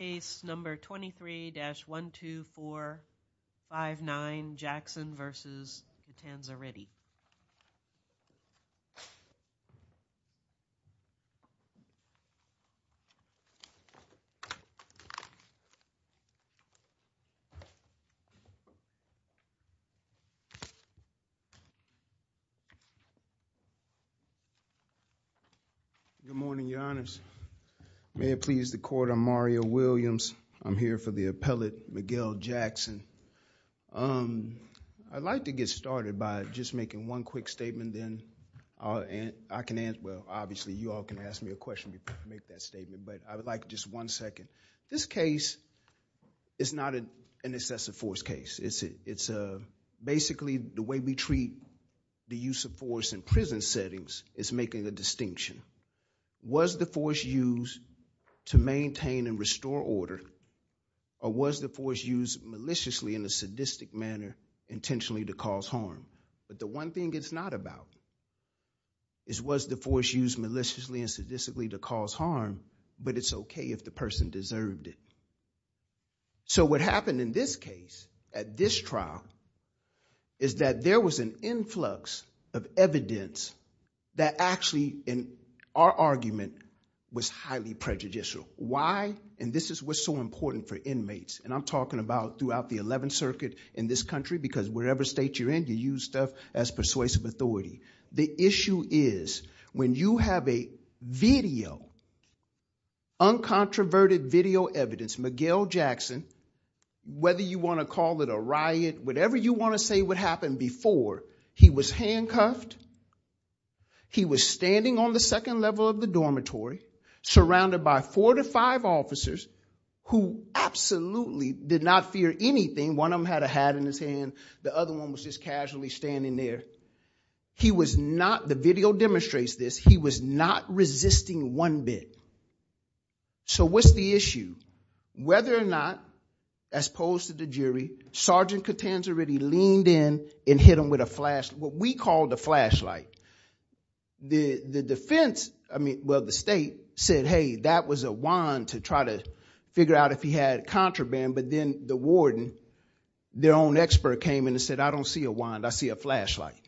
Case No. 23-12459, Jackson v. Catanzariti Good morning, Your Honors. May it please the Court, I'm Mario Williams. I'm here for the appellate, Miguel Jackson. I'd like to get started by just making one quick statement, then I can answer. Well, obviously, you all can ask me a question before I make that statement. But I would like just one second. This case is not an excessive force case. It's basically the way we treat the use of force in prison settings is making a distinction. Was the force used to maintain and restore order? Or was the force used maliciously in a sadistic manner intentionally to cause harm? But the one thing it's not about is was the force used maliciously and sadistically to cause harm? But it's OK if the person deserved it. So what happened in this case, at this trial, is that there was an influx of evidence that actually, in our argument, was highly prejudicial. Why? And this is what's so important for inmates. And I'm talking about throughout the 11th Circuit in this country, because wherever state you're in, you use stuff as persuasive authority. The issue is when you have a video, uncontroverted video evidence, Miguel Jackson, whether you want to call it a riot, whatever you want to say what happened before, he was handcuffed. He was standing on the second level of the dormitory, surrounded by four to five officers who absolutely did not fear anything. One of them had a hat in his hand. The other one was just casually standing there. The video demonstrates this. He was not resisting one bit. So what's the issue? Whether or not, as opposed to the jury, Sergeant Catanzariti leaned in and hit him with a flash, what we call the flashlight. The defense, I mean, well, the state, said, hey, that was a wand to try to figure out if he had contraband. But then the warden, their own expert came in and said, I don't see a wand. I see a flashlight.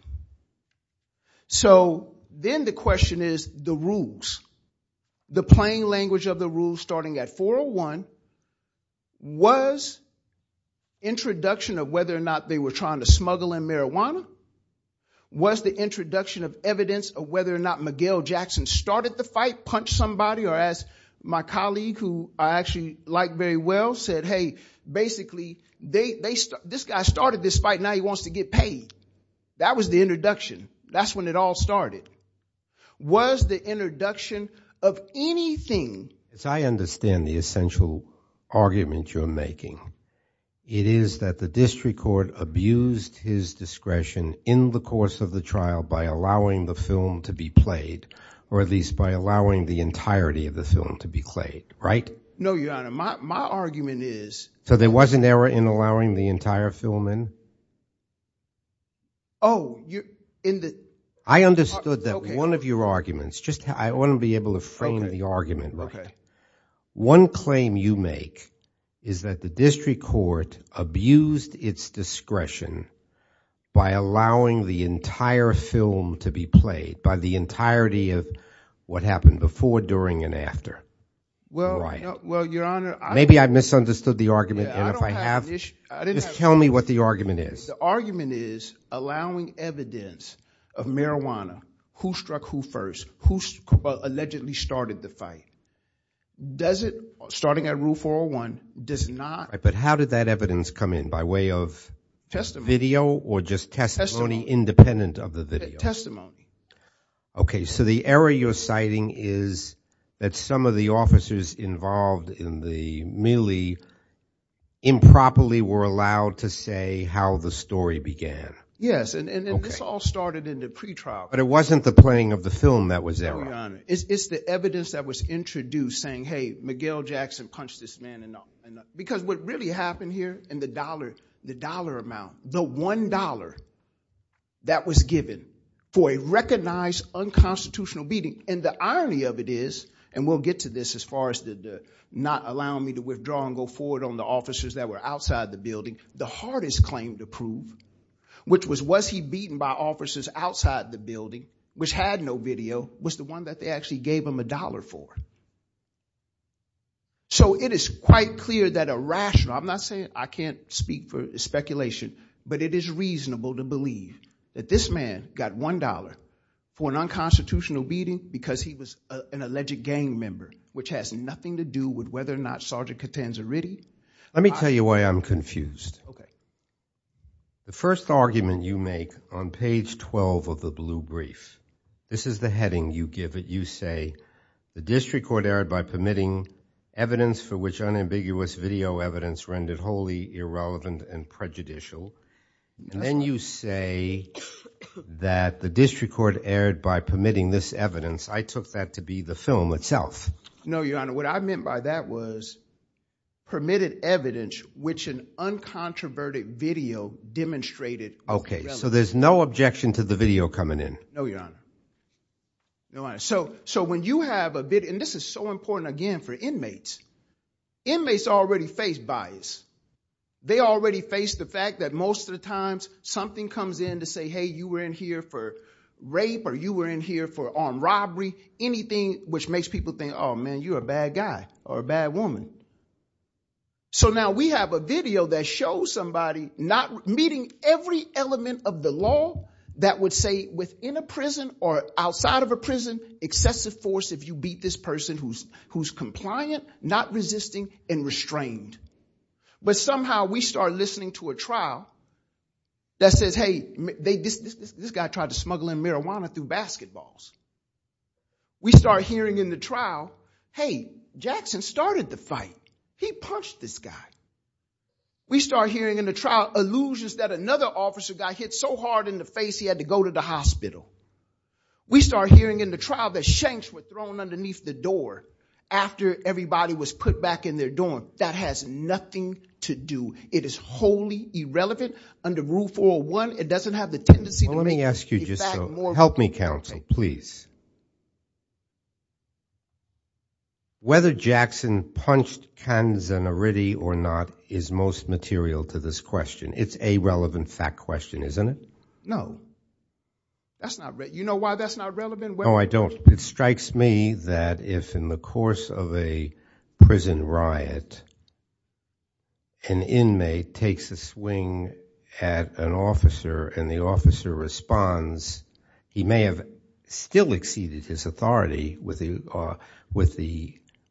So then the question is the rules. The plain language of the rules, starting at 401, was introduction of whether or not they were trying to smuggle in marijuana, was the introduction of evidence of whether or not Miguel Jackson started the fight, punched somebody, or as my colleague, who I actually like very well, said, hey, basically, this guy started this fight. Now he wants to get paid. That was the introduction. That's when it all started. Was the introduction of anything. As I understand the essential argument you're making, it is that the district court abused his discretion in the course of the trial by allowing the film to be played, or at least by allowing the entirety of the film to be played, right? No, Your Honor, my argument is. So there was an error in allowing the entire film in? Oh, in the. I understood that one of your arguments, just I want to be able to frame the argument. One claim you make is that the district court abused its discretion by allowing the entire film to be played, by the entirety of what happened before, during, and after. Well, Your Honor, I. Maybe I misunderstood the argument. And if I have, just tell me what the argument is. The argument is allowing evidence of marijuana, who struck who first, who allegedly started the fight. Does it, starting at rule 401, does not. But how did that evidence come in? By way of video or just testimony independent of the video? OK, so the error you're citing is that some of the officers involved in the merely improperly were allowed to say how the story began. Yes, and this all started in the pretrial. But it wasn't the playing of the film that was there. No, Your Honor, it's the evidence that was introduced saying, hey, Miguel Jackson punched this man enough. Because what really happened here in the dollar, the dollar amount, the $1 that was given for a recognized unconstitutional beating. And the irony of it is, and we'll get to this as far as not allowing me to withdraw and go forward on the officers that were outside the building, the hardest claim to prove, which was, was he beaten by officers outside the building, which had no video, was the one that they actually gave him a dollar for. So it is quite clear that a rational, I'm not saying I can't speak for speculation, but it is reasonable to believe that this man got $1 for an unconstitutional beating because he was an alleged gang member, which has nothing to do with whether or not Sergeant Catanzariti. Let me tell you why I'm confused. OK. The first argument you make on page 12 of the blue brief, this is the heading you give it. You say, the district court erred by permitting evidence for which unambiguous video evidence rendered wholly irrelevant and prejudicial. And then you say that the district court erred by permitting this evidence. I took that to be the film itself. No, Your Honor, what I meant by that was permitted evidence which an uncontroverted video demonstrated was irrelevant. OK, so there's no objection to the video coming in. No, Your Honor. So when you have a bit, and this is so important, again, for inmates. Inmates already face bias. They already face the fact that most of the times, something comes in to say, hey, you were in here for rape or you were in here for armed robbery, anything which makes people think, oh, man, you're a bad guy or a bad woman. So now we have a video that shows somebody not meeting every element of the law that would say, within a prison or outside of a prison, excessive force if you beat this person who's compliant, not resisting, and restrained. But somehow, we start listening to a trial that says, hey, this guy tried to smuggle in marijuana through basketballs. We start hearing in the trial, hey, Jackson started the fight. He punched this guy. We start hearing in the trial allusions that another officer got hit so hard in the face he had to go to the hospital. We start hearing in the trial that shanks were thrown underneath the door after everybody was put back in their dorm. That has nothing to do. It is wholly irrelevant. Under Rule 401, it doesn't have the tendency to make the fact more important. Help me, counsel, please. Whether Jackson punched Kanzenoritty or not is most material to this question. It's a relevant fact question, isn't it? No. That's not relevant. You know why that's not relevant? No, I don't. It strikes me that if, in the course of a prison riot, an inmate takes a swing at an officer, and the officer responds, he may have still exceeded his authority with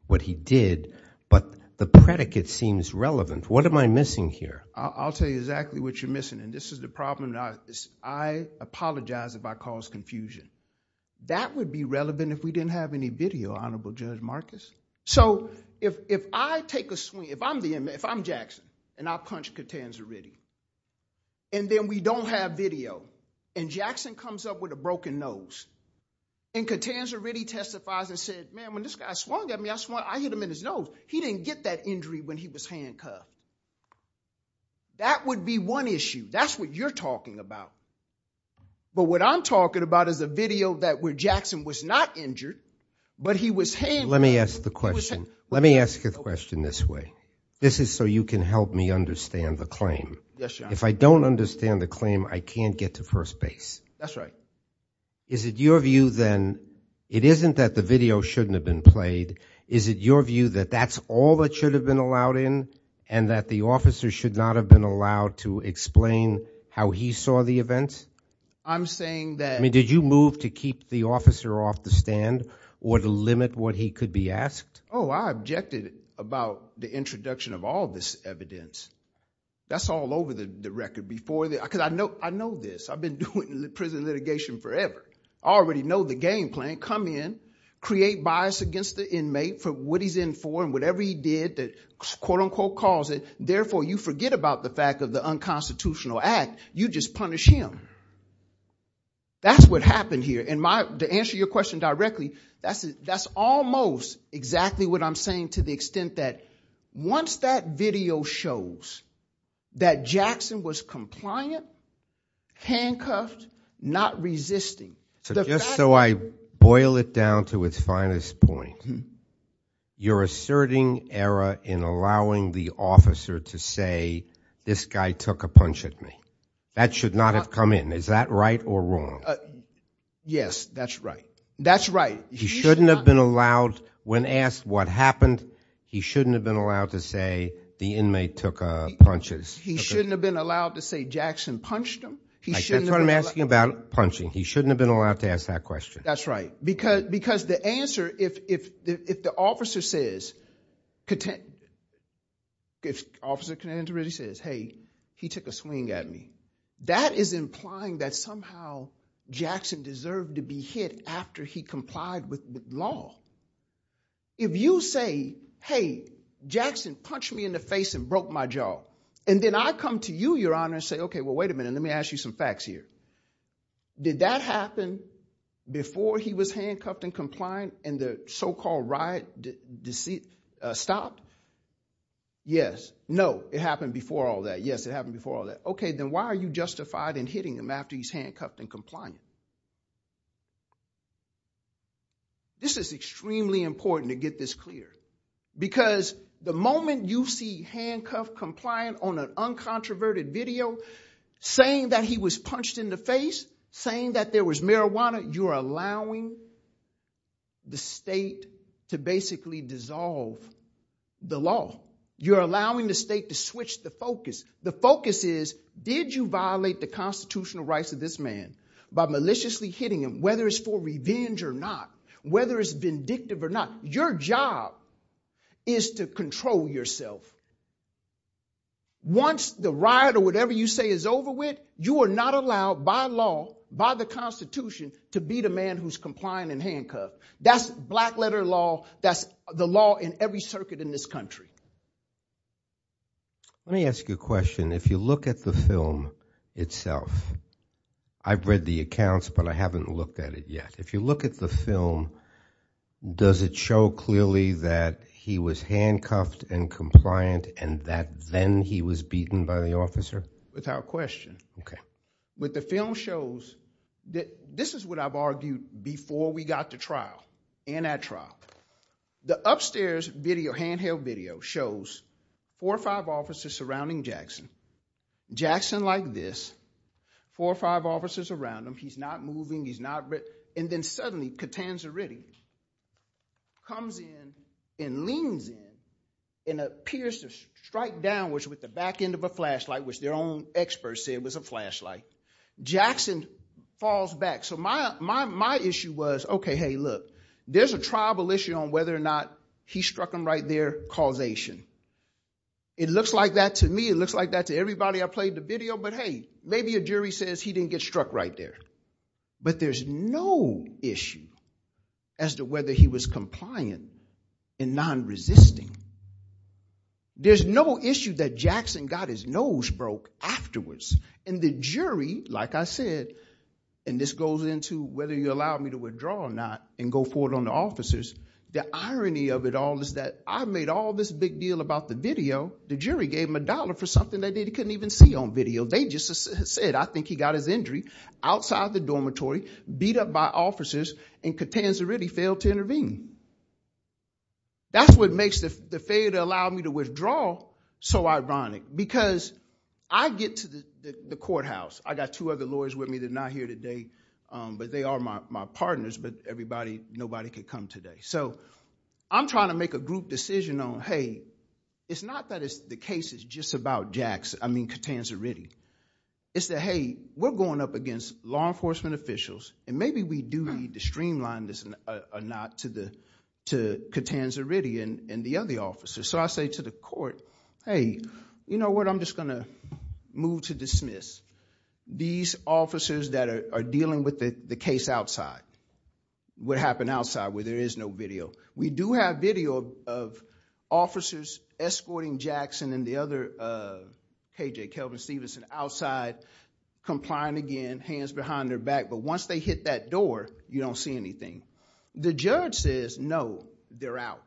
what he did, but the predicate seems relevant. What am I missing here? I'll tell you exactly what you're missing. And this is the problem. I apologize if I cause confusion. That would be relevant if we didn't have any video, Honorable Judge Marcus. So if I take a swing, if I'm the inmate, if I'm Jackson, and I punch Kanzenoritty, and then we don't have video, and Jackson comes up with a broken nose, and Kanzenoritty testifies and says, man, when this guy swung at me, I hit him in his nose. He didn't get that injury when he was handcuffed. That would be one issue. That's what you're talking about. But what I'm talking about is a video that where Jackson was not injured, but he was handcuffed. Let me ask the question. Let me ask a question this way. This is so you can help me understand the claim. If I don't understand the claim, I can't get to first base. Is it your view, then, it isn't that the video shouldn't have been played. Is it your view that that's all that should have been allowed in, and that the officer should not have been allowed to explain how he saw the event? I'm saying that. I mean, did you move to keep the officer off the stand or to limit what he could be asked? Oh, I objected about the introduction of all this evidence. That's all over the record. Because I know this. I've been doing prison litigation forever. I already know the game plan. Come in, create bias against the inmate for what he's in for, and whatever he did that quote, unquote, calls it. Therefore, you forget about the fact of the unconstitutional act. You just punish him. That's what happened here. And to answer your question directly, that's almost exactly what I'm saying to the extent that once that video shows that Jackson was compliant, handcuffed, not resisting. So just so I boil it down to its finest point, you're asserting error in allowing the officer to say, this guy took a punch at me. That should not have come in. Is that right or wrong? Yes, that's right. That's right. He shouldn't have been allowed, when asked what happened, he shouldn't have been allowed to say, the inmate took punches. He shouldn't have been allowed to say Jackson punched him. That's what I'm asking about, punching. He shouldn't have been allowed to ask that question. That's right. Because the answer, if the officer says, if Officer Contender really says, hey, he took a swing at me, that is implying that somehow Jackson deserved to be hit after he complied with the law. If you say, hey, Jackson punched me in the face and broke my jaw, and then I come to you, Your Honor, and say, OK, well, wait a minute. Let me ask you some facts here. Did that happen before he was handcuffed and compliant and the so-called riot stopped? Yes. No, it happened before all that. Yes, it happened before all that. OK, then why are you justified in hitting him after he's handcuffed and compliant? This is extremely important to get this clear. Because the moment you see handcuffed, compliant, on an uncontroverted video, saying that he was punched in the face, saying that there was marijuana, you're allowing the state to basically dissolve the law. You're allowing the state to switch the focus. The focus is, did you violate the constitutional rights of this man by violating the law? By maliciously hitting him, whether it's for revenge or not, whether it's vindictive or not, your job is to control yourself. Once the riot or whatever you say is over with, you are not allowed by law, by the Constitution, to beat a man who's compliant and handcuffed. That's black letter law. That's the law in every circuit in this country. Let me ask you a question. If you look at the film itself, I've seen the accounts, but I haven't looked at it yet. If you look at the film, does it show clearly that he was handcuffed and compliant and that then he was beaten by the officer? Without question. What the film shows, this is what I've argued before we got to trial and at trial. The upstairs video, handheld video, shows four or five officers surrounding Jackson. Jackson like this, four or five officers around him. He's not moving. And then suddenly, Catanzariti comes in and leans in and appears to strike downwards with the back end of a flashlight, which their own experts said was a flashlight. Jackson falls back. So my issue was, OK, hey, look, there's a tribal issue on whether or not he struck him right there, causation. It looks like that to me. It looks like that to everybody I played the video. But hey, maybe a jury says he didn't get struck right there. But there's no issue as to whether he was compliant and non-resisting. There's no issue that Jackson got his nose broke afterwards. And the jury, like I said, and this goes into whether you allow me to withdraw or not and go forward on the officers, the irony of it all is that I made all this big deal about the video. The jury gave him a dollar for something that he couldn't even see on video. They just said, I think he got his injury outside the dormitory, beat up by officers, and Catanzariti failed to intervene. That's what makes the failure to allow me to withdraw so ironic. Because I get to the courthouse. I got two other lawyers with me that are not here today. But they are my partners. But nobody could come today. So I'm trying to make a group decision on, hey, it's not that the case is just about Catanzariti. It's that, hey, we're going up against law enforcement officials. And maybe we do need to streamline this or not to Catanzariti and the other officers. So I say to the court, hey, you know what? I'm just going to move to dismiss. These officers that are dealing with the case outside, what happened outside where there is no video, we do have video of officers escorting Jackson and the other KJ, Kelvin Stevenson, outside, complying again, hands behind their back. But once they hit that door, you don't see anything. The judge says, no, they're out.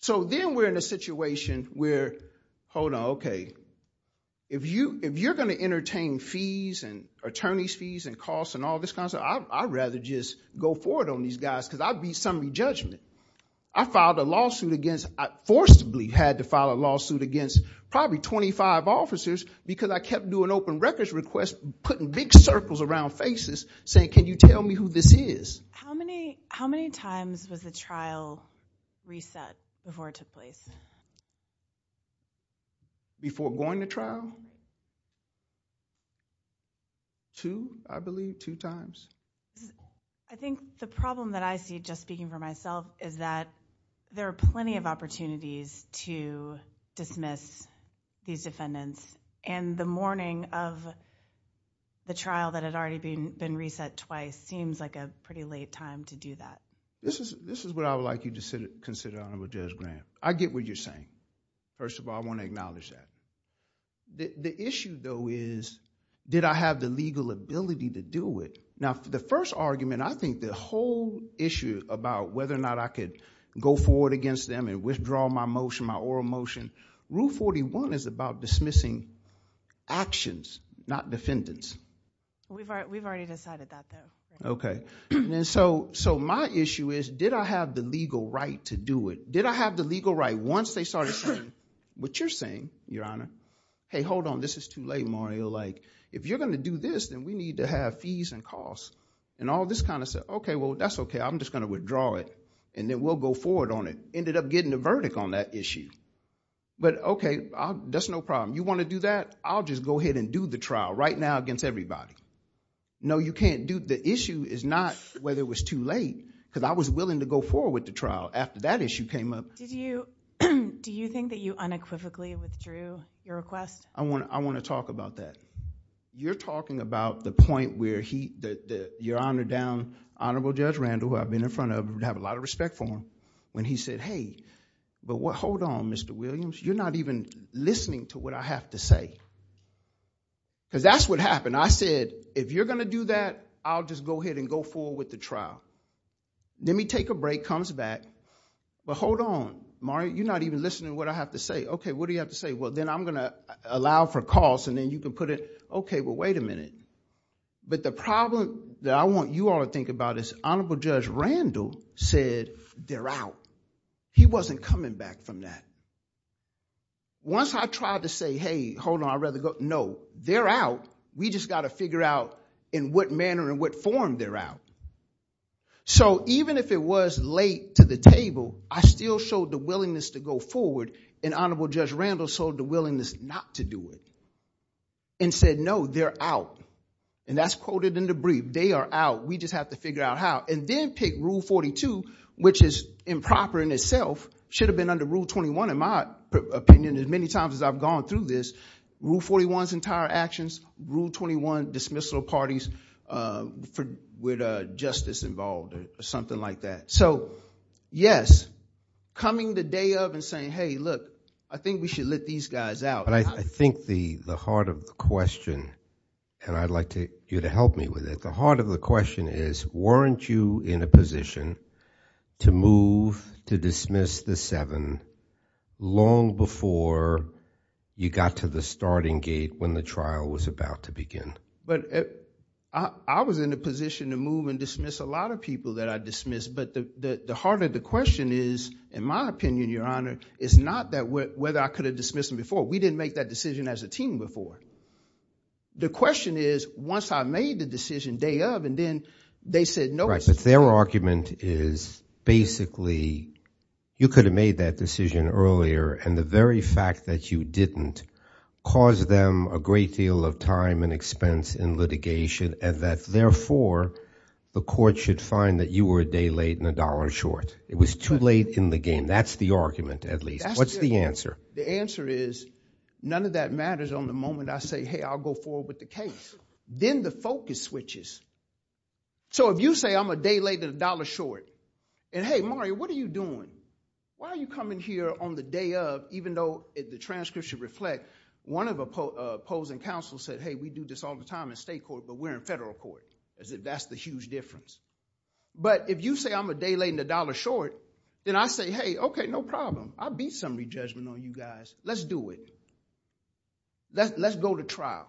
So then we're in a situation where, hold on, OK, if you're going to entertain fees and attorney's fees and costs and all this kind of stuff, I'd rather just go forward on these guys. Because I'd be somebody's judgment. I filed a lawsuit against, I forcibly had to file a lawsuit against probably 25 officers because I kept doing open records requests, putting big circles around faces, saying, can you tell me who this is? How many times was the trial reset before it took place? Before going to trial? Two, I believe, two times. I think the problem that I see, just speaking for myself, is that there are plenty of opportunities to dismiss these defendants. And the morning of the trial that had already been reset twice seems like a pretty late time to do that. This is what I would like you to consider, Honorable Judge Graham. I get what you're saying. First of all, I want to acknowledge that. The issue, though, is did I have the legal ability to do it? The first argument, I think the whole issue about whether or not I could go forward against them and withdraw my motion, my oral motion, Rule 41 is about dismissing actions, not defendants. We've already decided that, though. OK. So my issue is, did I have the legal right to do it? Did I have the legal right, once they started saying, what you're saying, Your Honor, hey, hold on, this is too late, Mario. If you're going to do this, then we have to have fees and costs. And all this kind of said, OK, well, that's OK. I'm just going to withdraw it. And then we'll go forward on it. Ended up getting a verdict on that issue. But OK, that's no problem. You want to do that? I'll just go ahead and do the trial right now against everybody. No, you can't do it. The issue is not whether it was too late, because I was willing to go forward with the trial after that issue came up. Do you think that you unequivocally withdrew your request? I want to talk about that. You're talking about the point where Your Honor down, Honorable Judge Randall, who I've been in front of, and have a lot of respect for him, when he said, hey, but hold on, Mr. Williams, you're not even listening to what I have to say. Because that's what happened. I said, if you're going to do that, I'll just go ahead and go forward with the trial. Let me take a break, comes back. But hold on, Mario, you're not even listening to what I have to say. OK, what do you have to say? Well, then I'm going to allow for costs, and then you can put it, OK, well, wait a minute. But the problem that I want you all to think about is Honorable Judge Randall said, they're out. He wasn't coming back from that. Once I tried to say, hey, hold on, I'd rather go, no. They're out. We just got to figure out in what manner and what form they're out. So even if it was late to the table, I still showed the willingness to go forward, and Honorable Judge Randall showed the willingness not to do it and said, no, they're out. And that's quoted in the brief. They are out. We just have to figure out how. And then pick Rule 42, which is improper in itself, should have been under Rule 21, in my opinion, as many times as I've gone through this. Rule 41's entire actions, Rule 21 dismissal parties with justice involved, or something like that. So yes, coming the day of and saying, hey, look, I think we should let these guys out. But I think the heart of the question, and I'd like you to help me with it, the heart of the question is, weren't you in a position to move to dismiss the seven long before you got to the starting gate when the trial was about to begin? But I was in a position to move and dismiss a lot of people that I dismissed. But the heart of the question is, in my opinion, it's not that whether I could have dismissed them before. We didn't make that decision as a team before. The question is, once I made the decision day of, and then they said no. But their argument is, basically, you could have made that decision earlier. And the very fact that you didn't caused them a great deal of time and expense in litigation. And that, therefore, the court should find that you were a day late and a dollar short. It was too late in the game. That's the argument, at least. What's the answer? The answer is, none of that matters on the moment I say, hey, I'll go forward with the case. Then the focus switches. So if you say, I'm a day late and a dollar short, and hey, Mario, what are you doing? Why are you coming here on the day of, even though the transcript should reflect one of opposing counsel said, hey, we do this all the time in state court, but we're in federal court, as if that's the huge difference. But if you say, I'm a day late and a dollar short, then I say, hey, OK, no problem. I beat some of your judgment on you guys. Let's do it. Let's go to trial.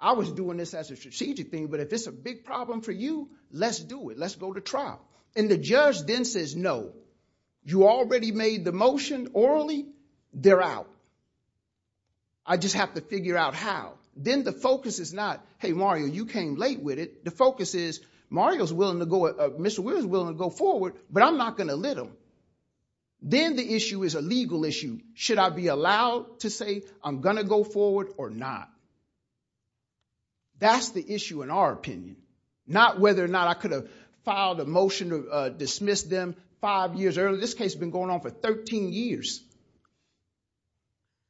I was doing this as a strategic thing, but if it's a big problem for you, let's do it. Let's go to trial. And the judge then says, no. You already made the motion orally. They're out. I just have to figure out how. Then the focus is not, hey, Mario, you came late with it. The focus is, Mr. Weir is willing to go forward, but I'm not going to let him. Then the issue is a legal issue. Should I be allowed to say I'm going to go forward or not? That's the issue in our opinion, not whether or not I could have filed a motion to dismiss them five years earlier. This case has been going on for 13 years.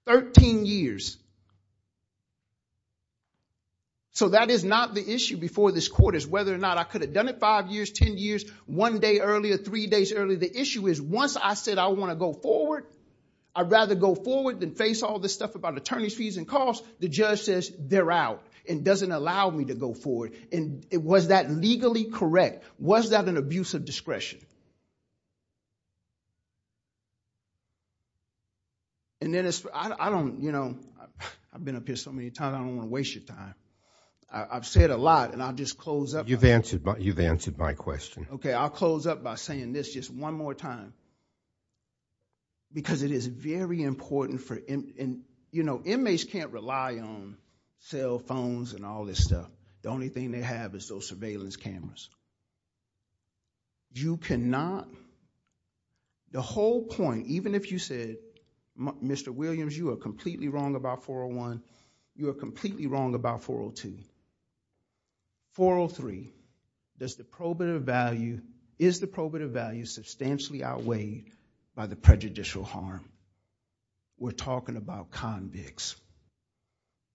13 years. So that is not the issue before this court, is whether or not I could have done it five years, 10 years, one day earlier, three days earlier. The issue is, once I said I want to go forward, I'd rather go forward than face all this stuff about attorney's fees and costs. The judge says, they're out and doesn't allow me to go forward. And was that legally correct? Was that an abuse of discretion? And then I don't, you know, I've been up here so many times, I don't want to waste your time. I've said a lot, and I'll just close up. You've answered my question. I'll close up by saying this just one more time. Because it is very important for, you know, inmates can't rely on cell phones and all this stuff. The only thing they have is those surveillance cameras. You cannot, the whole point, even if you said, Mr. Williams, you are completely wrong about 401. You are completely wrong about 402. 403, does the probative value, is the probative value substantially outweighed by the prejudicial harm? We're talking about convicts.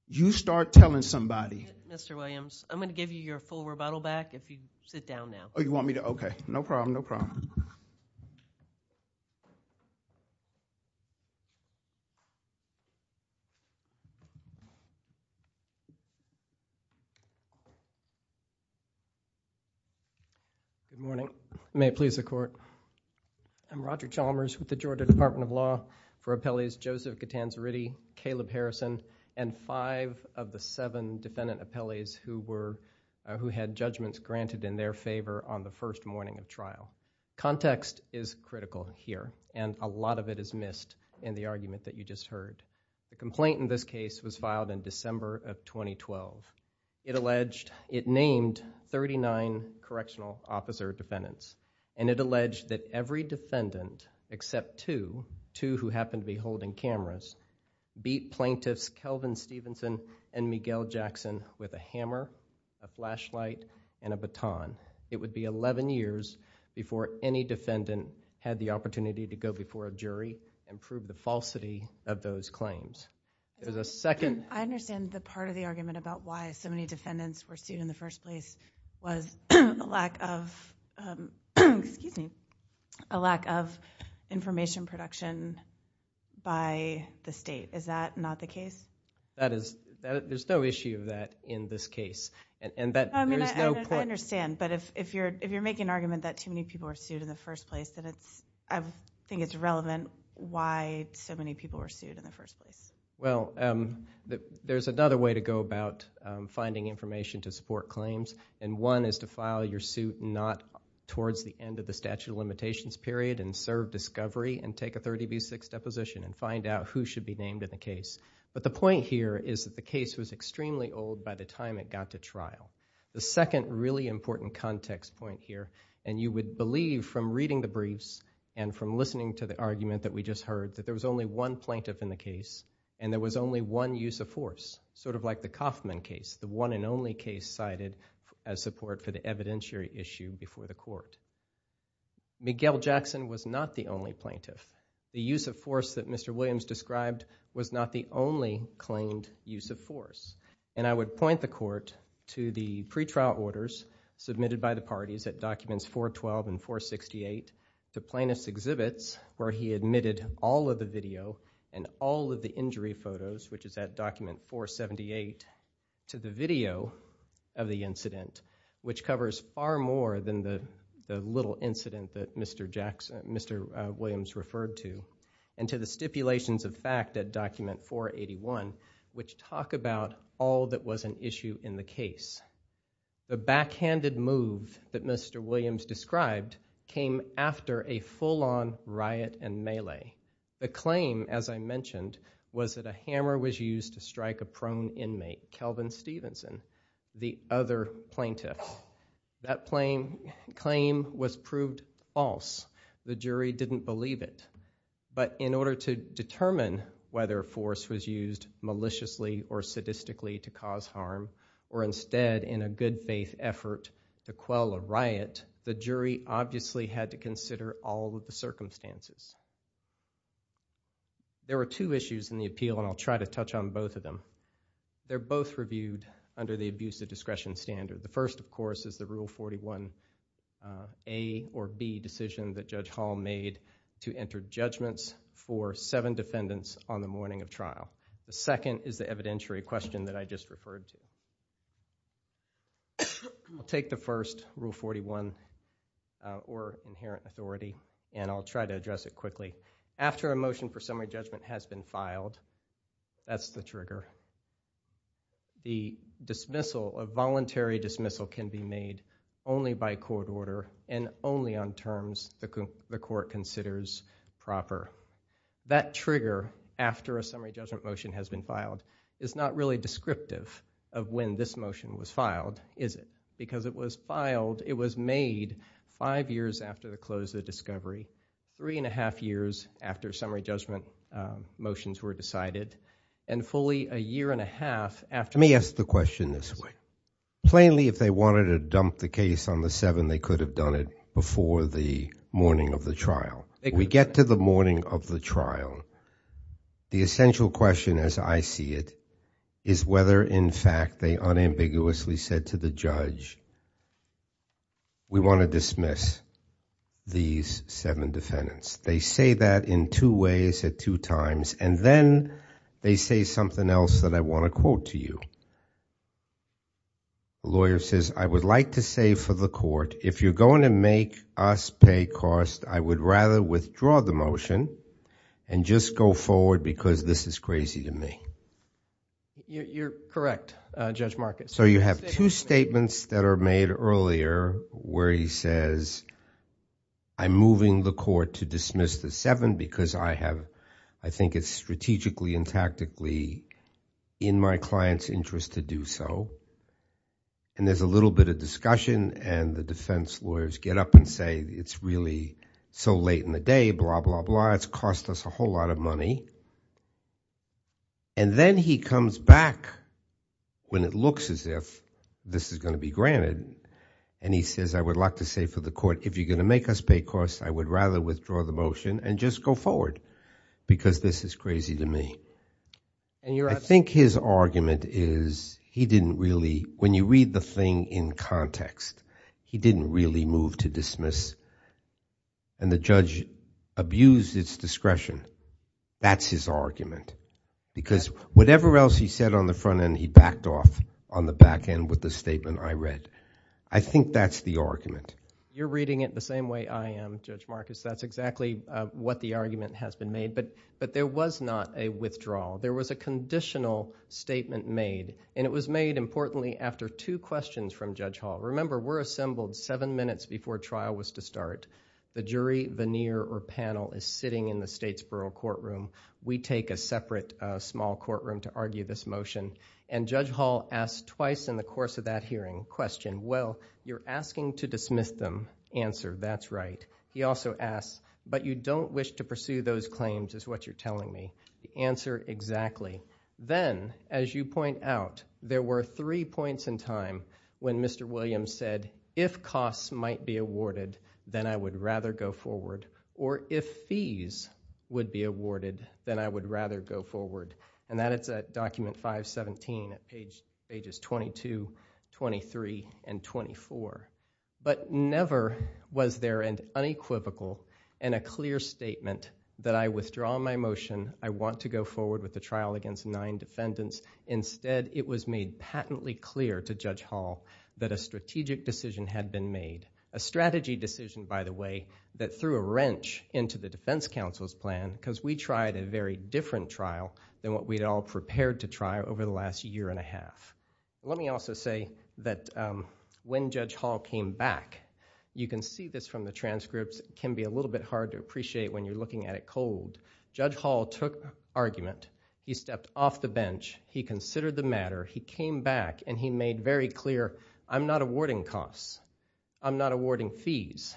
You start telling somebody. Mr. Williams, I'm going to give you your full rebuttal back if you sit down now. Oh, you want me to? OK, no problem, no problem. Good morning. May it please the court. I'm Roger Chalmers with the Georgia Department of Law for appellees Joseph Catanzariti, Caleb Harrison, and five of the seven defendant appellees who had judgments granted in their favor on the first morning of trial. Context is critical here, and a lot of it is missed in the argument that you just heard. The complaint in this case was filed in December of 2012. It alleged, it named 39 correctional officer defendants, and it alleged that every defendant except two, two who happened to be holding cameras, beat plaintiffs Kelvin Stevenson and Miguel Jackson with a hammer, a flashlight, and a baton. It would be 11 years before any defendant had the opportunity to go before a jury and prove the falsity of those claims. There's a second. I understand the part of the argument about why so many defendants were sued in the first place was a lack of information production by the state. Is that not the case? There's no issue of that in this case. And that there is no point. I understand, but if you're making an argument that too many people were sued in the first place, I think it's irrelevant why so many people were sued in the first place. Well, there's another way to go about finding information to support claims. And one is to file your suit not towards the end of the statute of limitations period and serve discovery and take a 30 v. 6 deposition and find out who should be named in the case. But the point here is that the case was extremely old by the time it got to trial. The second really important context point here, and you would believe from reading the briefs and from listening to the argument that we just heard that there was only one plaintiff in the case and there was only one use of force, sort of like the Kaufman case, the one and only case cited as support for the evidentiary issue before the court. Miguel Jackson was not the only plaintiff. The use of force that Mr. Williams described was not the only claimed use of force. And I would point the court to the pretrial orders submitted by the parties at documents 412 and 468, to plaintiff's exhibits where he admitted all of the video and all of the injury photos, which is at document 478, to the video of the incident, which covers far more than the little incident that Mr. Williams referred to, and to the stipulations of fact at document 481, which talk about all that was an issue in the case. The backhanded move that Mr. Williams described came after a full-on riot and melee. The claim, as I mentioned, was that a hammer was used to strike a prone inmate, Kelvin Stevenson, the other plaintiff. That claim was proved false. The jury didn't believe it. But in order to determine whether force was used maliciously or sadistically to cause harm, or instead in a good faith effort to quell a riot, the jury obviously had to consider all of the circumstances. There were two issues in the appeal, and I'll try to touch on both of them. They're both reviewed under the abuse of discretion standard. The first, of course, is the Rule 41 A or B decision that Judge Hall made to enter judgments for seven defendants on the morning of trial. The second is the evidentiary question that I just referred to. I'll take the first, Rule 41, or inherent authority, and I'll try to address it quickly. After a motion for summary judgment has been filed, that's the trigger. The dismissal, a voluntary dismissal, can be made only by court order and only on terms the court considers proper. That trigger, after a summary judgment motion has been filed, is not really descriptive of when this motion was filed, is it? Because it was filed, it was made five years after the close of the discovery, three and a half years after summary judgment motions were decided, and fully a year and a half after. Let me ask the question this way. Plainly, if they wanted to dump the case on the seven, they could have done it before the morning of the trial. We get to the morning of the trial. The essential question, as I see it, is whether, in fact, they unambiguously said to the judge, we want to dismiss these seven defendants. They say that in two ways at two times, and then they say something else that I want to quote to you. The lawyer says, I would like to say for the court, if you're going to make us pay cost, I would rather withdraw the motion and just go forward because this is crazy to me. You're correct, Judge Marcus. So you have two statements that are made earlier where he says, I'm moving the court to dismiss the seven because I have, I think it's strategically and tactically in my client's interest to do so. And there's a little bit of discussion and the defense lawyers get up and say, it's really so late in the day, blah, blah, blah, it's cost us a whole lot of money. And then he comes back when it looks as if this is going to be granted, and he says, I would like to say for the court, if you're going to make us pay cost, I would rather withdraw the motion and just go forward because this is crazy to me. I think his argument is, he didn't really, when you read the thing in context, he didn't really move to dismiss and the judge abused its discretion. That's his argument, because whatever else he said on the front end, he backed off on the back end with the statement I read. I think that's the argument. You're reading it the same way I am, Judge Marcus. That's exactly what the argument has been made, but there was not a withdrawal. There was a conditional statement made, and it was made, importantly, after two questions from Judge Hall. Remember, we're assembled seven minutes before trial was to start. The jury, veneer, or panel is sitting in the state's borough courtroom. We take a separate small courtroom to argue this motion, and Judge Hall asked twice in the course of that hearing, question, well, you're asking to dismiss them. Answer, that's right. He also asked, but you don't wish to pursue those claims is what you're telling me. Answer, exactly. Then, as you point out, there were three points in time when Mr. Williams said, if costs might be awarded, then I would rather go forward, or if fees would be awarded, then I would rather go forward, and that is at document 517 at pages 22, 23, and 24, but never was there an unequivocal and a clear statement that I withdraw my motion. I want to go forward with the trial against nine defendants. Instead, it was made patently clear to Judge Hall that a strategic decision had been made, a strategy decision, by the way, that threw a wrench into the defense counsel's plan because we tried a very different trial than what we'd all prepared to try over the last year and a half. Let me also say that when Judge Hall came back, you can see this from the transcripts. It can be a little bit hard to appreciate when you're looking at it cold. Judge Hall took argument. He stepped off the bench. He considered the matter. He came back, and he made very clear, I'm not awarding costs. I'm not awarding fees.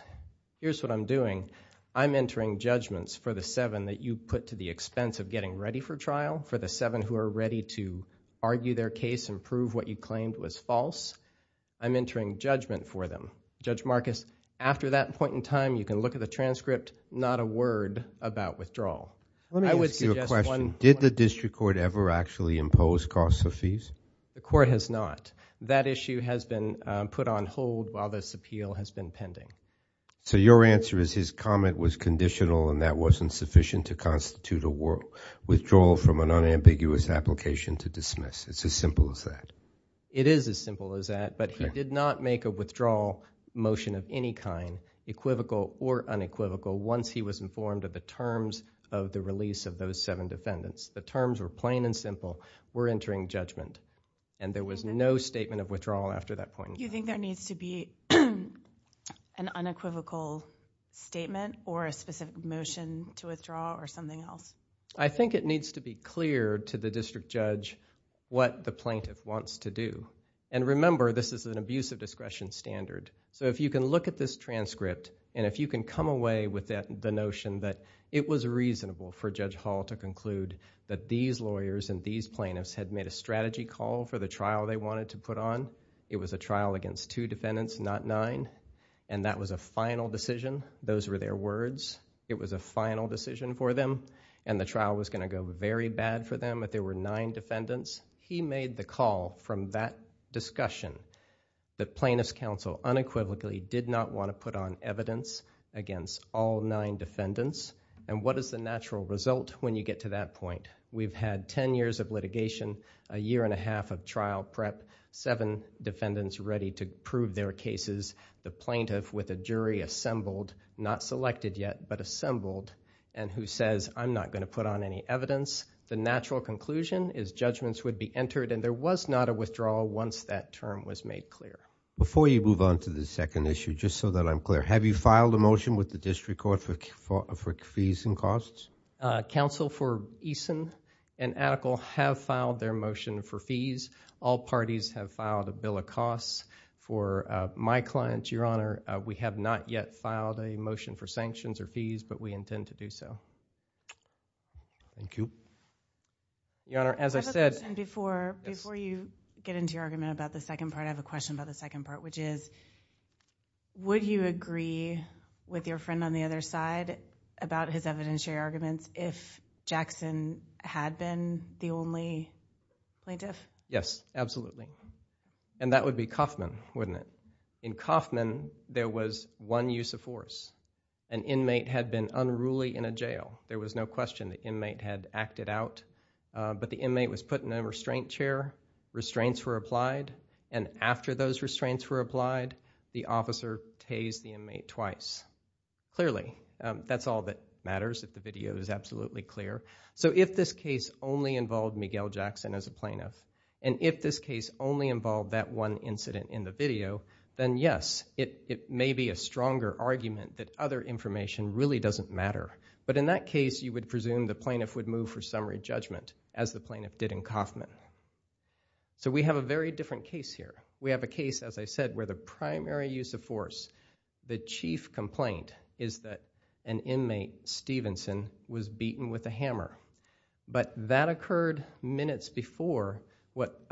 Here's what I'm doing. I'm entering judgments for the seven that you put to the expense of getting ready for trial, for the seven who are ready to argue their case and prove what you claimed was false. I'm entering judgment for them. Judge Marcus, after that point in time, you can look at the transcript, not a word about withdrawal. I would suggest one- Did the district court ever actually impose costs or fees? The court has not. That issue has been put on hold while this appeal has been pending. So your answer is his comment was conditional and that wasn't sufficient to constitute a withdrawal from an unambiguous application to dismiss. It's as simple as that. It is as simple as that, but he did not make a withdrawal motion of any kind, equivocal or unequivocal, once he was informed of the terms of the release of those seven defendants. The terms were plain and simple. We're entering judgment, and there was no statement of withdrawal after that point in time. You think there needs to be an unequivocal statement or a specific motion to withdraw or something else? I think it needs to be clear to the district judge what the plaintiff wants to do. And remember, this is an abuse of discretion standard. So if you can look at this transcript and if you can come away with the notion that it was reasonable for Judge Hall to conclude that these lawyers and these plaintiffs had made a strategy call for the trial they wanted to put on, it was a trial against two defendants, not nine, and that was a final decision. Those were their words. It was a final decision for them, and the trial was gonna go very bad for them if there were nine defendants. He made the call from that discussion that Plaintiff's Counsel unequivocally did not want to put on evidence against all nine defendants. And what is the natural result when you get to that point? We've had 10 years of litigation, a year and a half of trial prep, seven defendants ready to prove their cases, the plaintiff with a jury assembled, not selected yet, but assembled, and who says, I'm not gonna put on any evidence. The natural conclusion is judgments would be entered, and there was not a withdrawal once that term was made clear. Before you move on to the second issue, just so that I'm clear, have you filed a motion with the District Court for fees and costs? Counsel for Eason and Atticle have filed their motion for fees. All parties have filed a bill of costs. For my clients, Your Honor, we have not yet filed a motion for sanctions or fees, but we intend to do so. Thank you. Your Honor, as I said- I have a question before you get into your argument about the second part. I have a question about the second part, which is would you agree with your friend on the other side about his evidentiary arguments if Jackson had been the only plaintiff? Yes, absolutely. And that would be Kaufman, wouldn't it? In Kaufman, there was one use of force. An inmate had been unruly in a jail. There was no question the inmate had acted out, but the inmate was put in a restraint chair, restraints were applied, and after those restraints were applied, the officer tased the inmate twice. Clearly, that's all that matters if the video is absolutely clear. So if this case only involved Miguel Jackson as a plaintiff, and if this case only involved that one incident in the video, then yes, it may be a stronger argument that other information really doesn't matter. But in that case, you would presume the plaintiff would move for summary judgment, as the plaintiff did in Kaufman. So we have a very different case here. We have a case, as I said, where the primary use of force, the chief complaint, is that an inmate, Stevenson, was beaten with a hammer. But that occurred minutes before what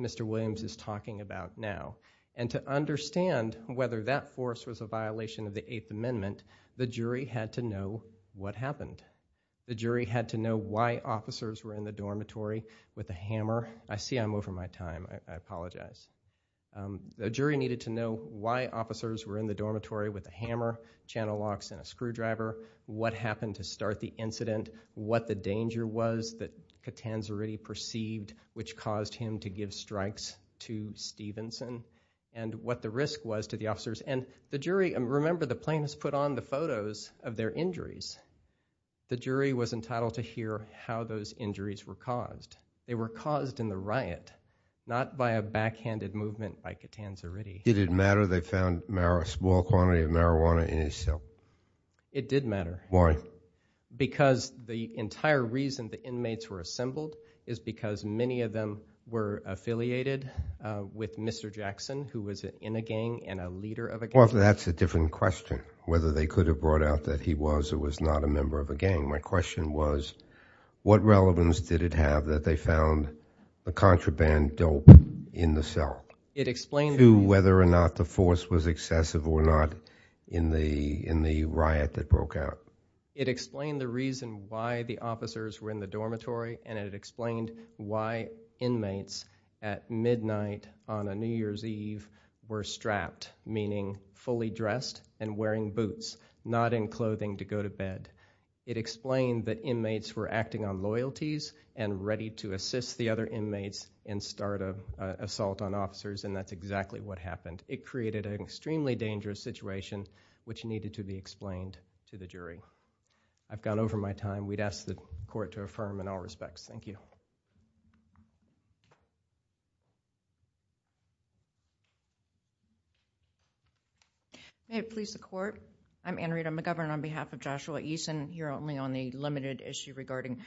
Mr. Williams is talking about now. And to understand whether that force was a violation of the Eighth Amendment, the jury had to know what happened. The jury had to know why officers were in the dormitory with a hammer. I see I'm over my time, I apologize. The jury needed to know why officers were in the dormitory with a hammer, channel locks, and a screwdriver, what happened to start the incident, what the danger was that Catanzariti perceived, which caused him to give strikes to Stevenson, and what the risk was to the officers. And the jury, and remember, the plaintiffs put on the photos of their injuries. The jury was entitled to hear how those injuries were caused. They were caused in the riot, not by a backhanded movement by Catanzariti. Did it matter they found a small quantity of marijuana in his cell? It did matter. Because the entire reason the inmates were assembled is because many of them were affiliated with Mr. Jackson, who was in a gang and a leader of a gang. Well, that's a different question, whether they could have brought out that he was or was not a member of a gang. My question was, what relevance did it have that they found a contraband dope in the cell? It explained to me. To whether or not the force was excessive or not in the riot that broke out. It explained the reason why the officers were in the dormitory, and it explained why inmates at midnight on a New Year's Eve were strapped, meaning fully dressed and wearing boots, not in clothing to go to bed. It explained that inmates were acting on loyalties and ready to assist the other inmates and start an assault on officers, and that's exactly what happened. It created an extremely dangerous situation which needed to be explained to the jury. I've gone over my time. We'd ask the court to affirm in all respects. Thank you. May it please the court. I'm Anne Rita McGovern on behalf of Joshua Eason, here only on the limited issue regarding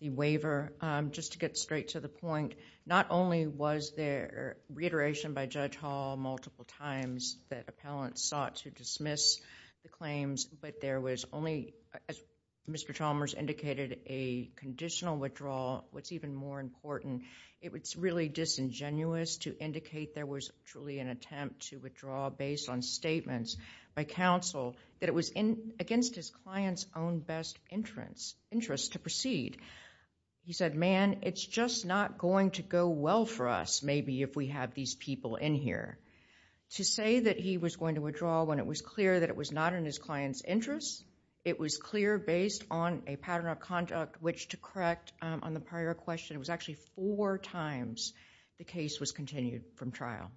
the waiver. Just to get straight to the point, not only was there reiteration by Judge Hall, multiple times, that appellants sought to dismiss the claims, but there was only, as Mr. Chalmers indicated, a conditional withdrawal. What's even more important, it's really disingenuous to indicate there was truly an attempt to withdraw based on statements by counsel that it was against his client's own best interest to proceed. He said, man, it's just not going to go well for us, maybe, if we have these people in here. To say that he was going to withdraw when it was clear that it was not in his client's interest, it was clear based on a pattern of conduct which, to correct on the prior question, it was actually four times the case was continued from trial.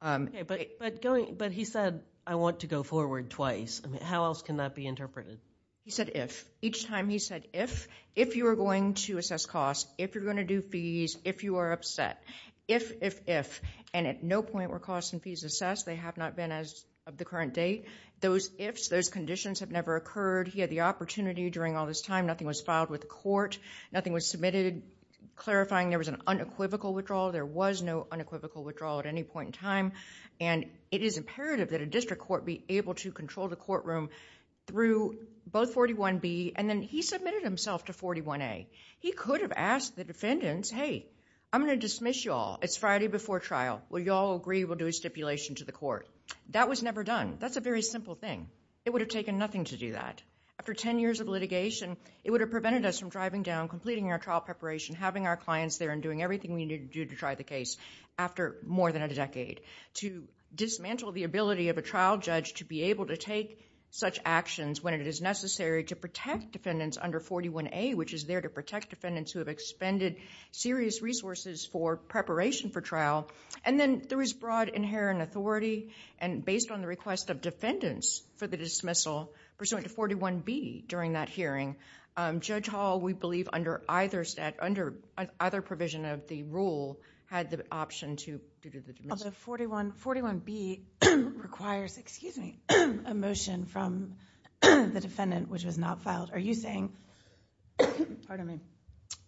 But he said, I want to go forward twice. How else can that be interpreted? He said if. Each time he said if. If you are going to assess costs, if you're gonna do fees, if you are upset. If, if, if. And at no point were costs and fees assessed. They have not been as of the current date. Those ifs, those conditions have never occurred. He had the opportunity during all this time. Nothing was filed with the court. Nothing was submitted clarifying there was an unequivocal withdrawal. There was no unequivocal withdrawal at any point in time. And it is imperative that a district court be able to control the courtroom through both 41B and then he submitted himself to 41A. He could have asked the defendants, hey, I'm gonna dismiss y'all. It's Friday before trial. Will y'all agree we'll do a stipulation to the court? That was never done. That's a very simple thing. It would have taken nothing to do that. After 10 years of litigation, it would have prevented us from driving down, completing our trial preparation, having our clients there, and doing everything we needed to do to try the case after more than a decade. To dismantle the ability of a trial judge to be able to take such actions when it is necessary to protect defendants under 41A, which is there to protect defendants who have expended serious resources for preparation for trial. And then there was broad inherent authority. And based on the request of defendants for the dismissal, pursuant to 41B during that hearing, Judge Hall, we believe under either provision of the rule, had the option to do the dismissal. 41B requires, excuse me, a motion from the defendant which was not filed. Are you saying? Pardon me.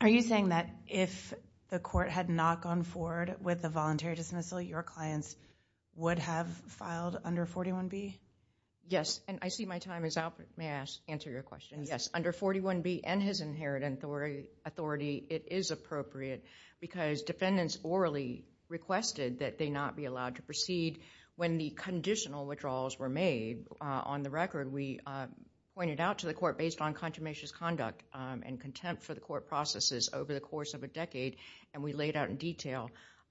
Are you saying that if the court had not gone forward with the voluntary dismissal, your clients would have filed under 41B? Yes, and I see my time is up. May I answer your question? Yes, under 41B and his inherent authority, it is appropriate because defendants orally requested that they not be allowed to proceed when the conditional withdrawals were made. On the record, we pointed out to the court based on contumacious conduct and contempt for the court processes over the course of a decade, and we laid out in detail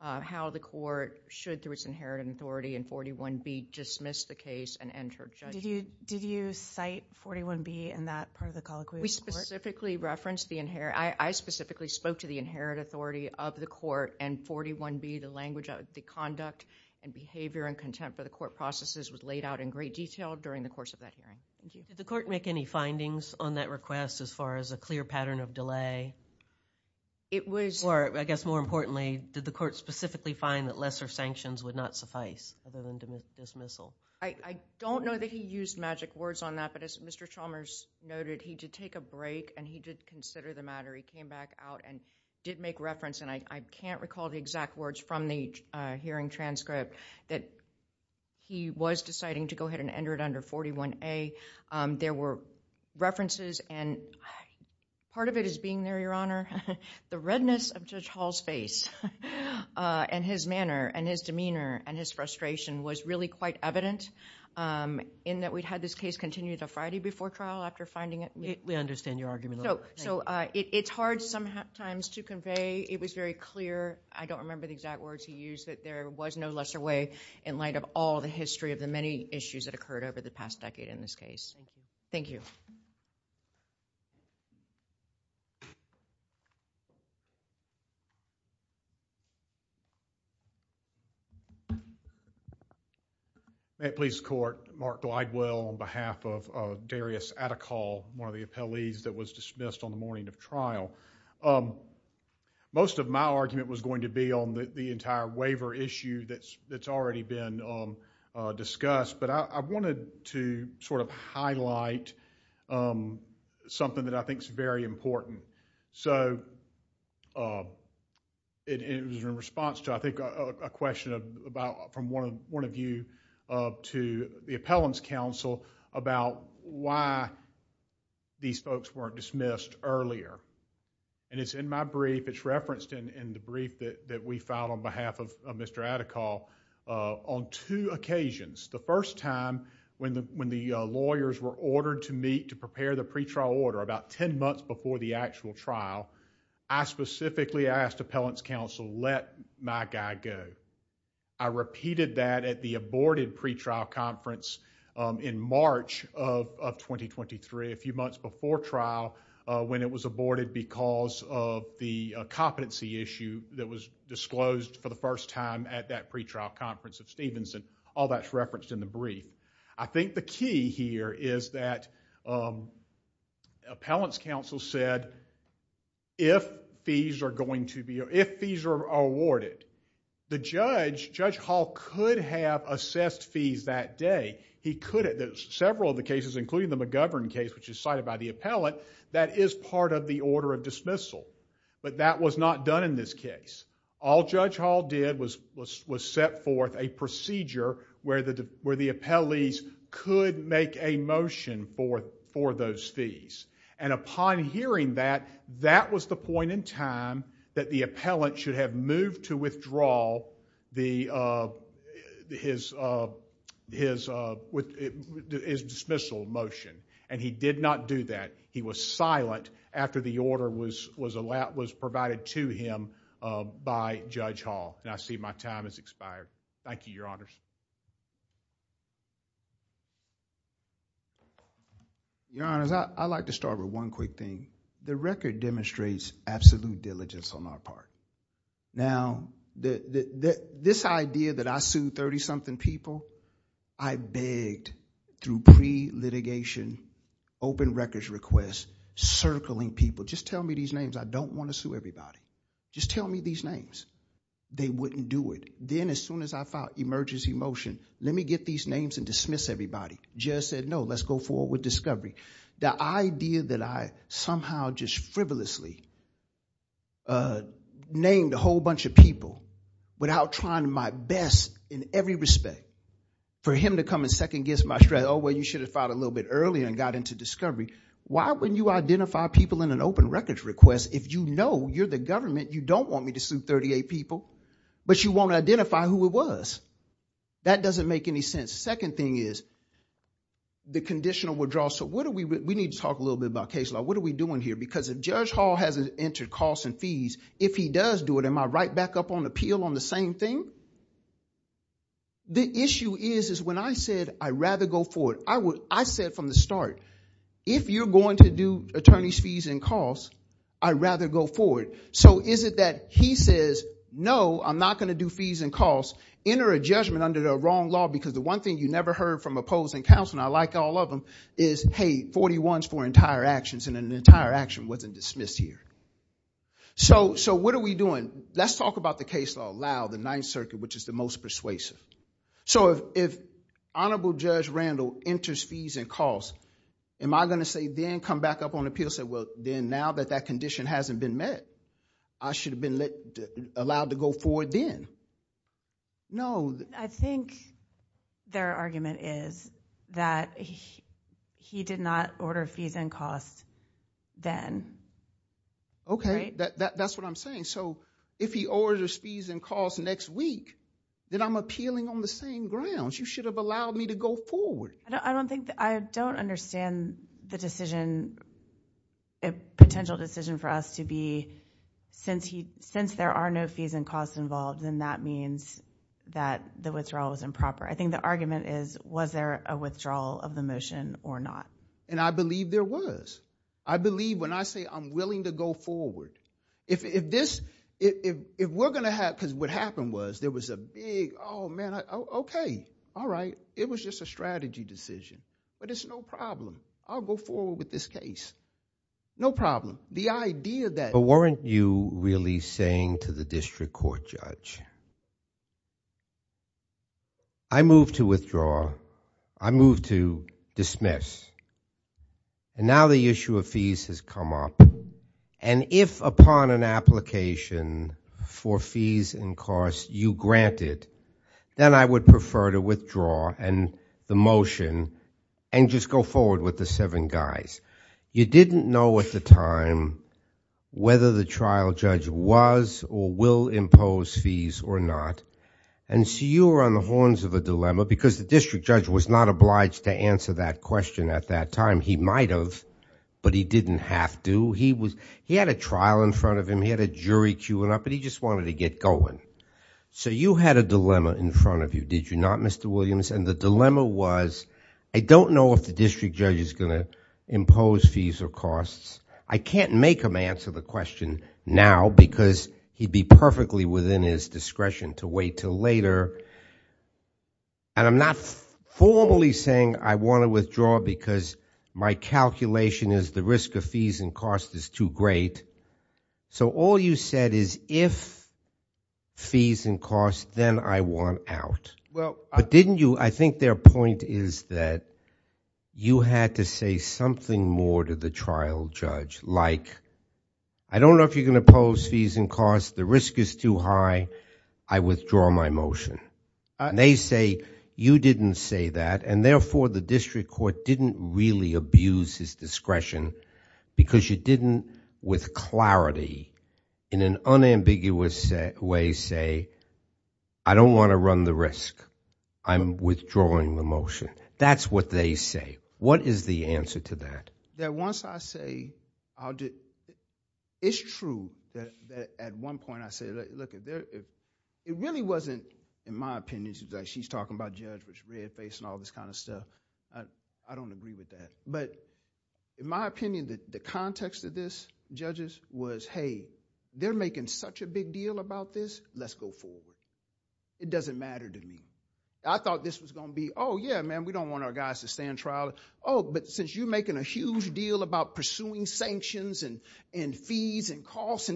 how the court should, through its inherent authority in 41B, dismiss the case and enter judgment. Did you cite 41B in that part of the colloquy? We specifically referenced the, I specifically spoke to the inherent authority of the court and 41B, the language of the conduct and behavior and contempt for the court processes was laid out in great detail during the course of that hearing. Did the court make any findings on that request as far as a clear pattern of delay? It was- Or I guess more importantly, did the court specifically find that lesser sanctions would not suffice other than dismissal? I don't know that he used magic words on that, but as Mr. Chalmers noted, he did take a break and he did consider the matter. He came back out and did make reference, and I can't recall the exact words from the hearing transcript, that he was deciding to go ahead and enter it under 41A. There were references, and part of it is being there, Your Honor. The redness of Judge Hall's face, and his manner, and his demeanor, and his frustration was really quite evident in that we'd had this case continue to Friday before trial after finding it- We understand your argument. So it's hard sometimes to convey. It was very clear. I don't remember the exact words he used, but there was no lesser way in light of all the history of the many issues that occurred over the past decade in this case. Thank you. May it please the Court, Mark Glidewell on behalf of Darius Attical, one of the appellees that was dismissed on the morning of trial. Most of my argument was going to be the entire waiver issue that's already been discussed, but I wanted to sort of highlight something that I think's very important. It was in response to, I think, a question from one of you to the Appellants' Counsel about why these folks weren't dismissed earlier. And it's in my brief, it's referenced in the brief that we filed on behalf of Mr. Attical, on two occasions. The first time, when the lawyers were ordered to meet to prepare the pretrial order about 10 months before the actual trial, I specifically asked Appellants' Counsel, let my guy go. I repeated that at the aborted pretrial conference in March of 2023, a few months before trial, when it was aborted because of the competency issue that was disclosed for the first time at that pretrial conference at Stevenson. All that's referenced in the brief. I think the key here is that Appellants' Counsel said, if fees are going to be, if fees are awarded, the judge, Judge Hall, could have assessed fees that day. He could have. There's several of the cases, including the McGovern case, which is cited by the appellant, that is part of the order of dismissal. But that was not done in this case. All Judge Hall did was set forth a procedure where the appellees could make a motion for those fees. And upon hearing that, that was the point in time that the appellant should have moved to withdraw his dismissal motion. And he did not do that. He was silent after the order was provided to him by Judge Hall. And I see my time has expired. Thank you, Your Honors. Your Honors, I'd like to start with one quick thing. The record demonstrates absolute diligence on my part. Now, this idea that I sued 30-something people, I begged through pre-litigation, open records requests, circling people, just tell me these names, I don't want to sue everybody. Just tell me these names. They wouldn't do it. Then as soon as I filed emergency motion, let me get these names and dismiss everybody. Judge said, no, let's go forward with discovery. The idea that I somehow just frivolously named a whole bunch of people without trying my best in every respect for him to come and second guess my strategy, oh, well, you should have filed a little bit earlier and got into discovery. Why wouldn't you identify people in an open records request if you know you're the government, you don't want me to sue 38 people, but you want to identify who it was? That doesn't make any sense. Second thing is the conditional withdrawal. So we need to talk a little bit about case law. What are we doing here? Because if Judge Hall hasn't entered costs and fees, if he does do it, am I right back up on appeal on the same thing? The issue is, is when I said, I'd rather go forward, I said from the start, if you're going to do attorney's fees and costs, I'd rather go forward. So is it that he says, no, I'm not gonna do fees and costs, enter a judgment under the wrong law, because the one thing you never heard from opposing counsel, and I like all of them, is, hey, 41's for entire actions, and an entire action wasn't dismissed here. So what are we doing? Let's talk about the case law aloud, the Ninth Circuit, which is the most persuasive. So if Honorable Judge Randall enters fees and costs, am I gonna say, then come back up on appeal, say, well, then now that that condition hasn't been met, I should have been allowed to go forward then? No. I think their argument is that he did not order fees and costs then. Okay, that's what I'm saying. So if he orders fees and costs next week, then I'm appealing on the same grounds. You should have allowed me to go forward. I don't think, I don't understand the decision, a potential decision for us to be, since there are no fees and costs involved, then that means that the withdrawal was improper. I think the argument is, was there a withdrawal of the motion or not? And I believe there was. I believe when I say I'm willing to go forward, if this, if we're gonna have, because what happened was there was a big, oh man, okay, all right. It was just a strategy decision. But it's no problem. I'll go forward with this case. No problem. The idea that. But weren't you really saying to the district court judge, I move to withdraw, I move to dismiss. And now the issue of fees has come up. And if upon an application for fees and costs you grant it, then I would prefer to withdraw the motion and just go forward with the seven guys. You didn't know at the time whether the trial judge was or will impose fees or not. And so you were on the horns of a dilemma because the district judge was not obliged to answer that question at that time. He might have, but he didn't have to. He had a trial in front of him. He had a jury queuing up, but he just wanted to get going. So you had a dilemma in front of you, did you not, Mr. Williams? And the dilemma was, I don't know if the district judge is gonna impose fees or costs. I can't make him answer the question now because he'd be perfectly within his discretion to wait till later. And I'm not formally saying I wanna withdraw because my calculation is the risk of fees and cost is too great. So all you said is if fees and costs, then I want out. Well, didn't you, I think their point is that you had to say something more to the trial judge, like, I don't know if you're gonna impose fees and costs. The risk is too high. I withdraw my motion. And they say, you didn't say that. And therefore, the district court didn't really abuse his discretion because you didn't, with clarity, in an unambiguous way, say, I don't wanna run the risk. I'm withdrawing the motion. That's what they say. What is the answer to that? That once I say, it's true that at one point, I said, look, it really wasn't, in my opinion, she's talking about judge with red face and all this kind of stuff. I don't agree with that. But in my opinion, the context of this, judges, was, hey, they're making such a big deal about this. Let's go forward. It doesn't matter to me. I thought this was gonna be, oh, yeah, man, we don't want our guys to stand trial. Oh, but since you're making a huge deal about pursuing sanctions and fees and costs,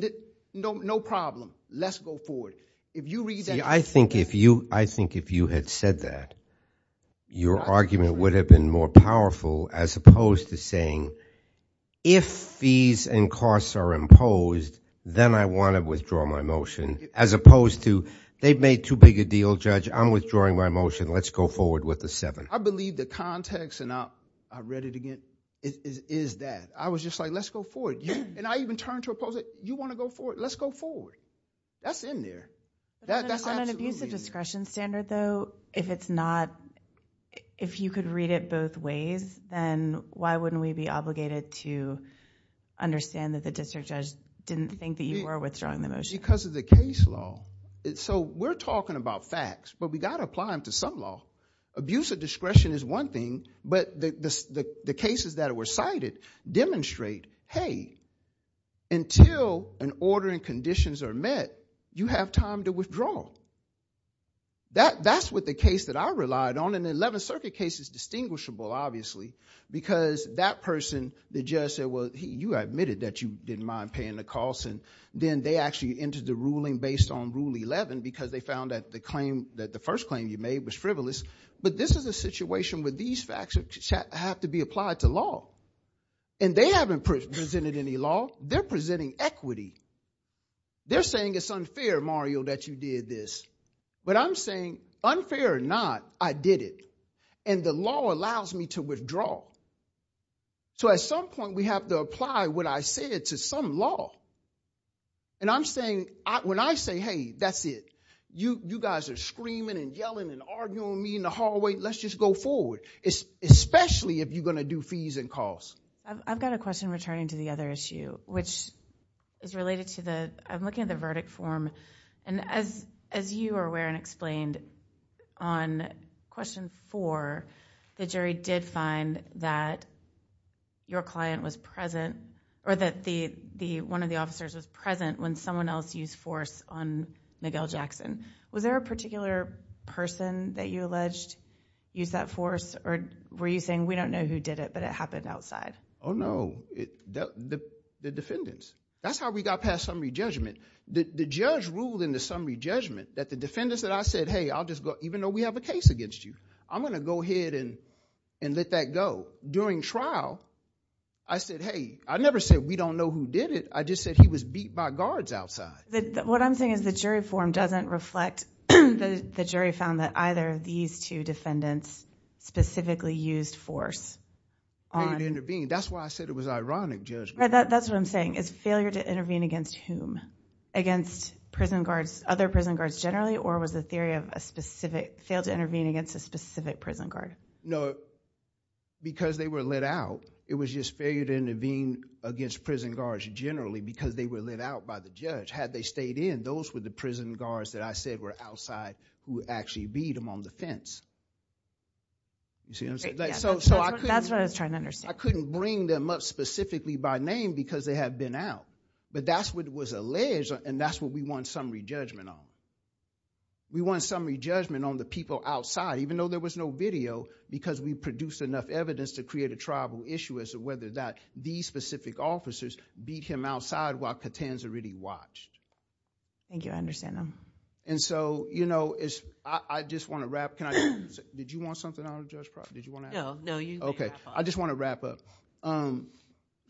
no problem, let's go forward. If you read that. I think if you had said that, your argument would have been more powerful as opposed to saying, if fees and costs are imposed, then I wanna withdraw my motion, as opposed to, they've made too big a deal, judge. I'm withdrawing my motion. Let's go forward with the seven. I believe the context, and I read it again, is that. I was just like, let's go forward. And I even turned to oppose it. You wanna go forward? Let's go forward. That's in there. That's absolutely in there. But on an abuse of discretion standard, though, if it's not, if you could read it both ways, then why wouldn't we be obligated to understand that the district judge didn't think that you were withdrawing the motion? Because of the case law. So we're talking about facts, but we gotta apply them to some law. Abuse of discretion is one thing, but the cases that were cited demonstrate, hey, until an order and conditions are met, you have time to withdraw. That's what the case that I relied on, and the 11th Circuit case is distinguishable, obviously, because that person, the judge said, well, you admitted that you didn't mind paying the costs, and then they actually entered the ruling based on Rule 11, because they found that the claim, that the first claim you made was frivolous. But this is a situation where these facts have to be applied to law. And they haven't presented any law. They're presenting equity. They're saying it's unfair, Mario, that you did this. But I'm saying, unfair or not, I did it. And the law allows me to withdraw. So at some point, we have to apply what I said to some law. And I'm saying, when I say, hey, that's it, you guys are screaming and yelling and arguing with me in the hallway, let's just go forward, especially if you're gonna do fees and costs. I've got a question returning to the other issue, which is related to the, I'm looking at the verdict form. And as you are aware and explained on question four, the jury did find that your client was present, or that one of the officers was present when someone else used force on Miguel Jackson. Was there a particular person that you alleged used that force, or were you saying, we don't know who did it, but it happened outside? Oh, no, the defendants. That's how we got past summary judgment. The judge ruled in the summary judgment that the defendants that I said, hey, I'll just go, even though we have a case against you, I'm gonna go ahead and let that go. During trial, I said, hey, I never said we don't know who did it, I just said he was beat by guards outside. What I'm saying is the jury form doesn't reflect, the jury found that either of these two defendants specifically used force on- That's why I said it was ironic judgment. That's what I'm saying, is failure to intervene against whom? Against prison guards, other prison guards generally, or was the theory of a specific, failed to intervene against a specific prison guard? No, because they were let out, it was just failure to intervene against prison guards generally, because they were let out by the judge. Had they stayed in, those were the prison guards that I said were outside, who actually beat him on the fence. You see what I'm saying? That's what I was trying to understand. I couldn't bring them up specifically by name, because they had been out, but that's what was alleged, and that's what we want summary judgment on. We want summary judgment on the people outside, even though there was no video, because we produced enough evidence to create a triable issue as to whether that these specific officers beat him outside while Catanza really watched. Thank you, I understand that. And so, I just wanna wrap, can I just, did you want something on, Judge Pratt? No, you can wrap up. Okay, I just wanna wrap up.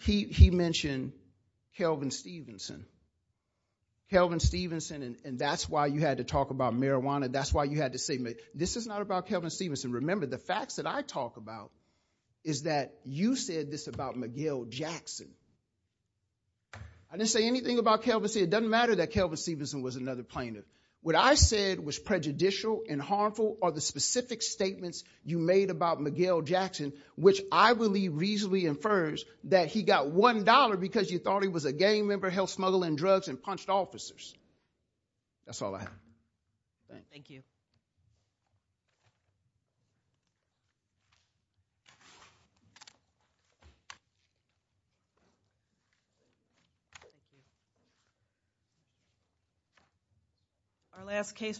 He mentioned Kelvin Stevenson. Kelvin Stevenson, and that's why you had to talk about marijuana, that's why you had to say, this is not about Kelvin Stevenson. Remember, the facts that I talk about is that you said this about Miguel Jackson. I didn't say anything about Kelvin, it doesn't matter that Kelvin Stevenson was another plaintiff. What I said was prejudicial and harmful are the specific statements you made about Miguel Jackson, which I believe reasonably infers that he got $1 because you thought he was a gang member, held smuggle and drugs, and punched officers. That's all I have. Thank you. Our last case.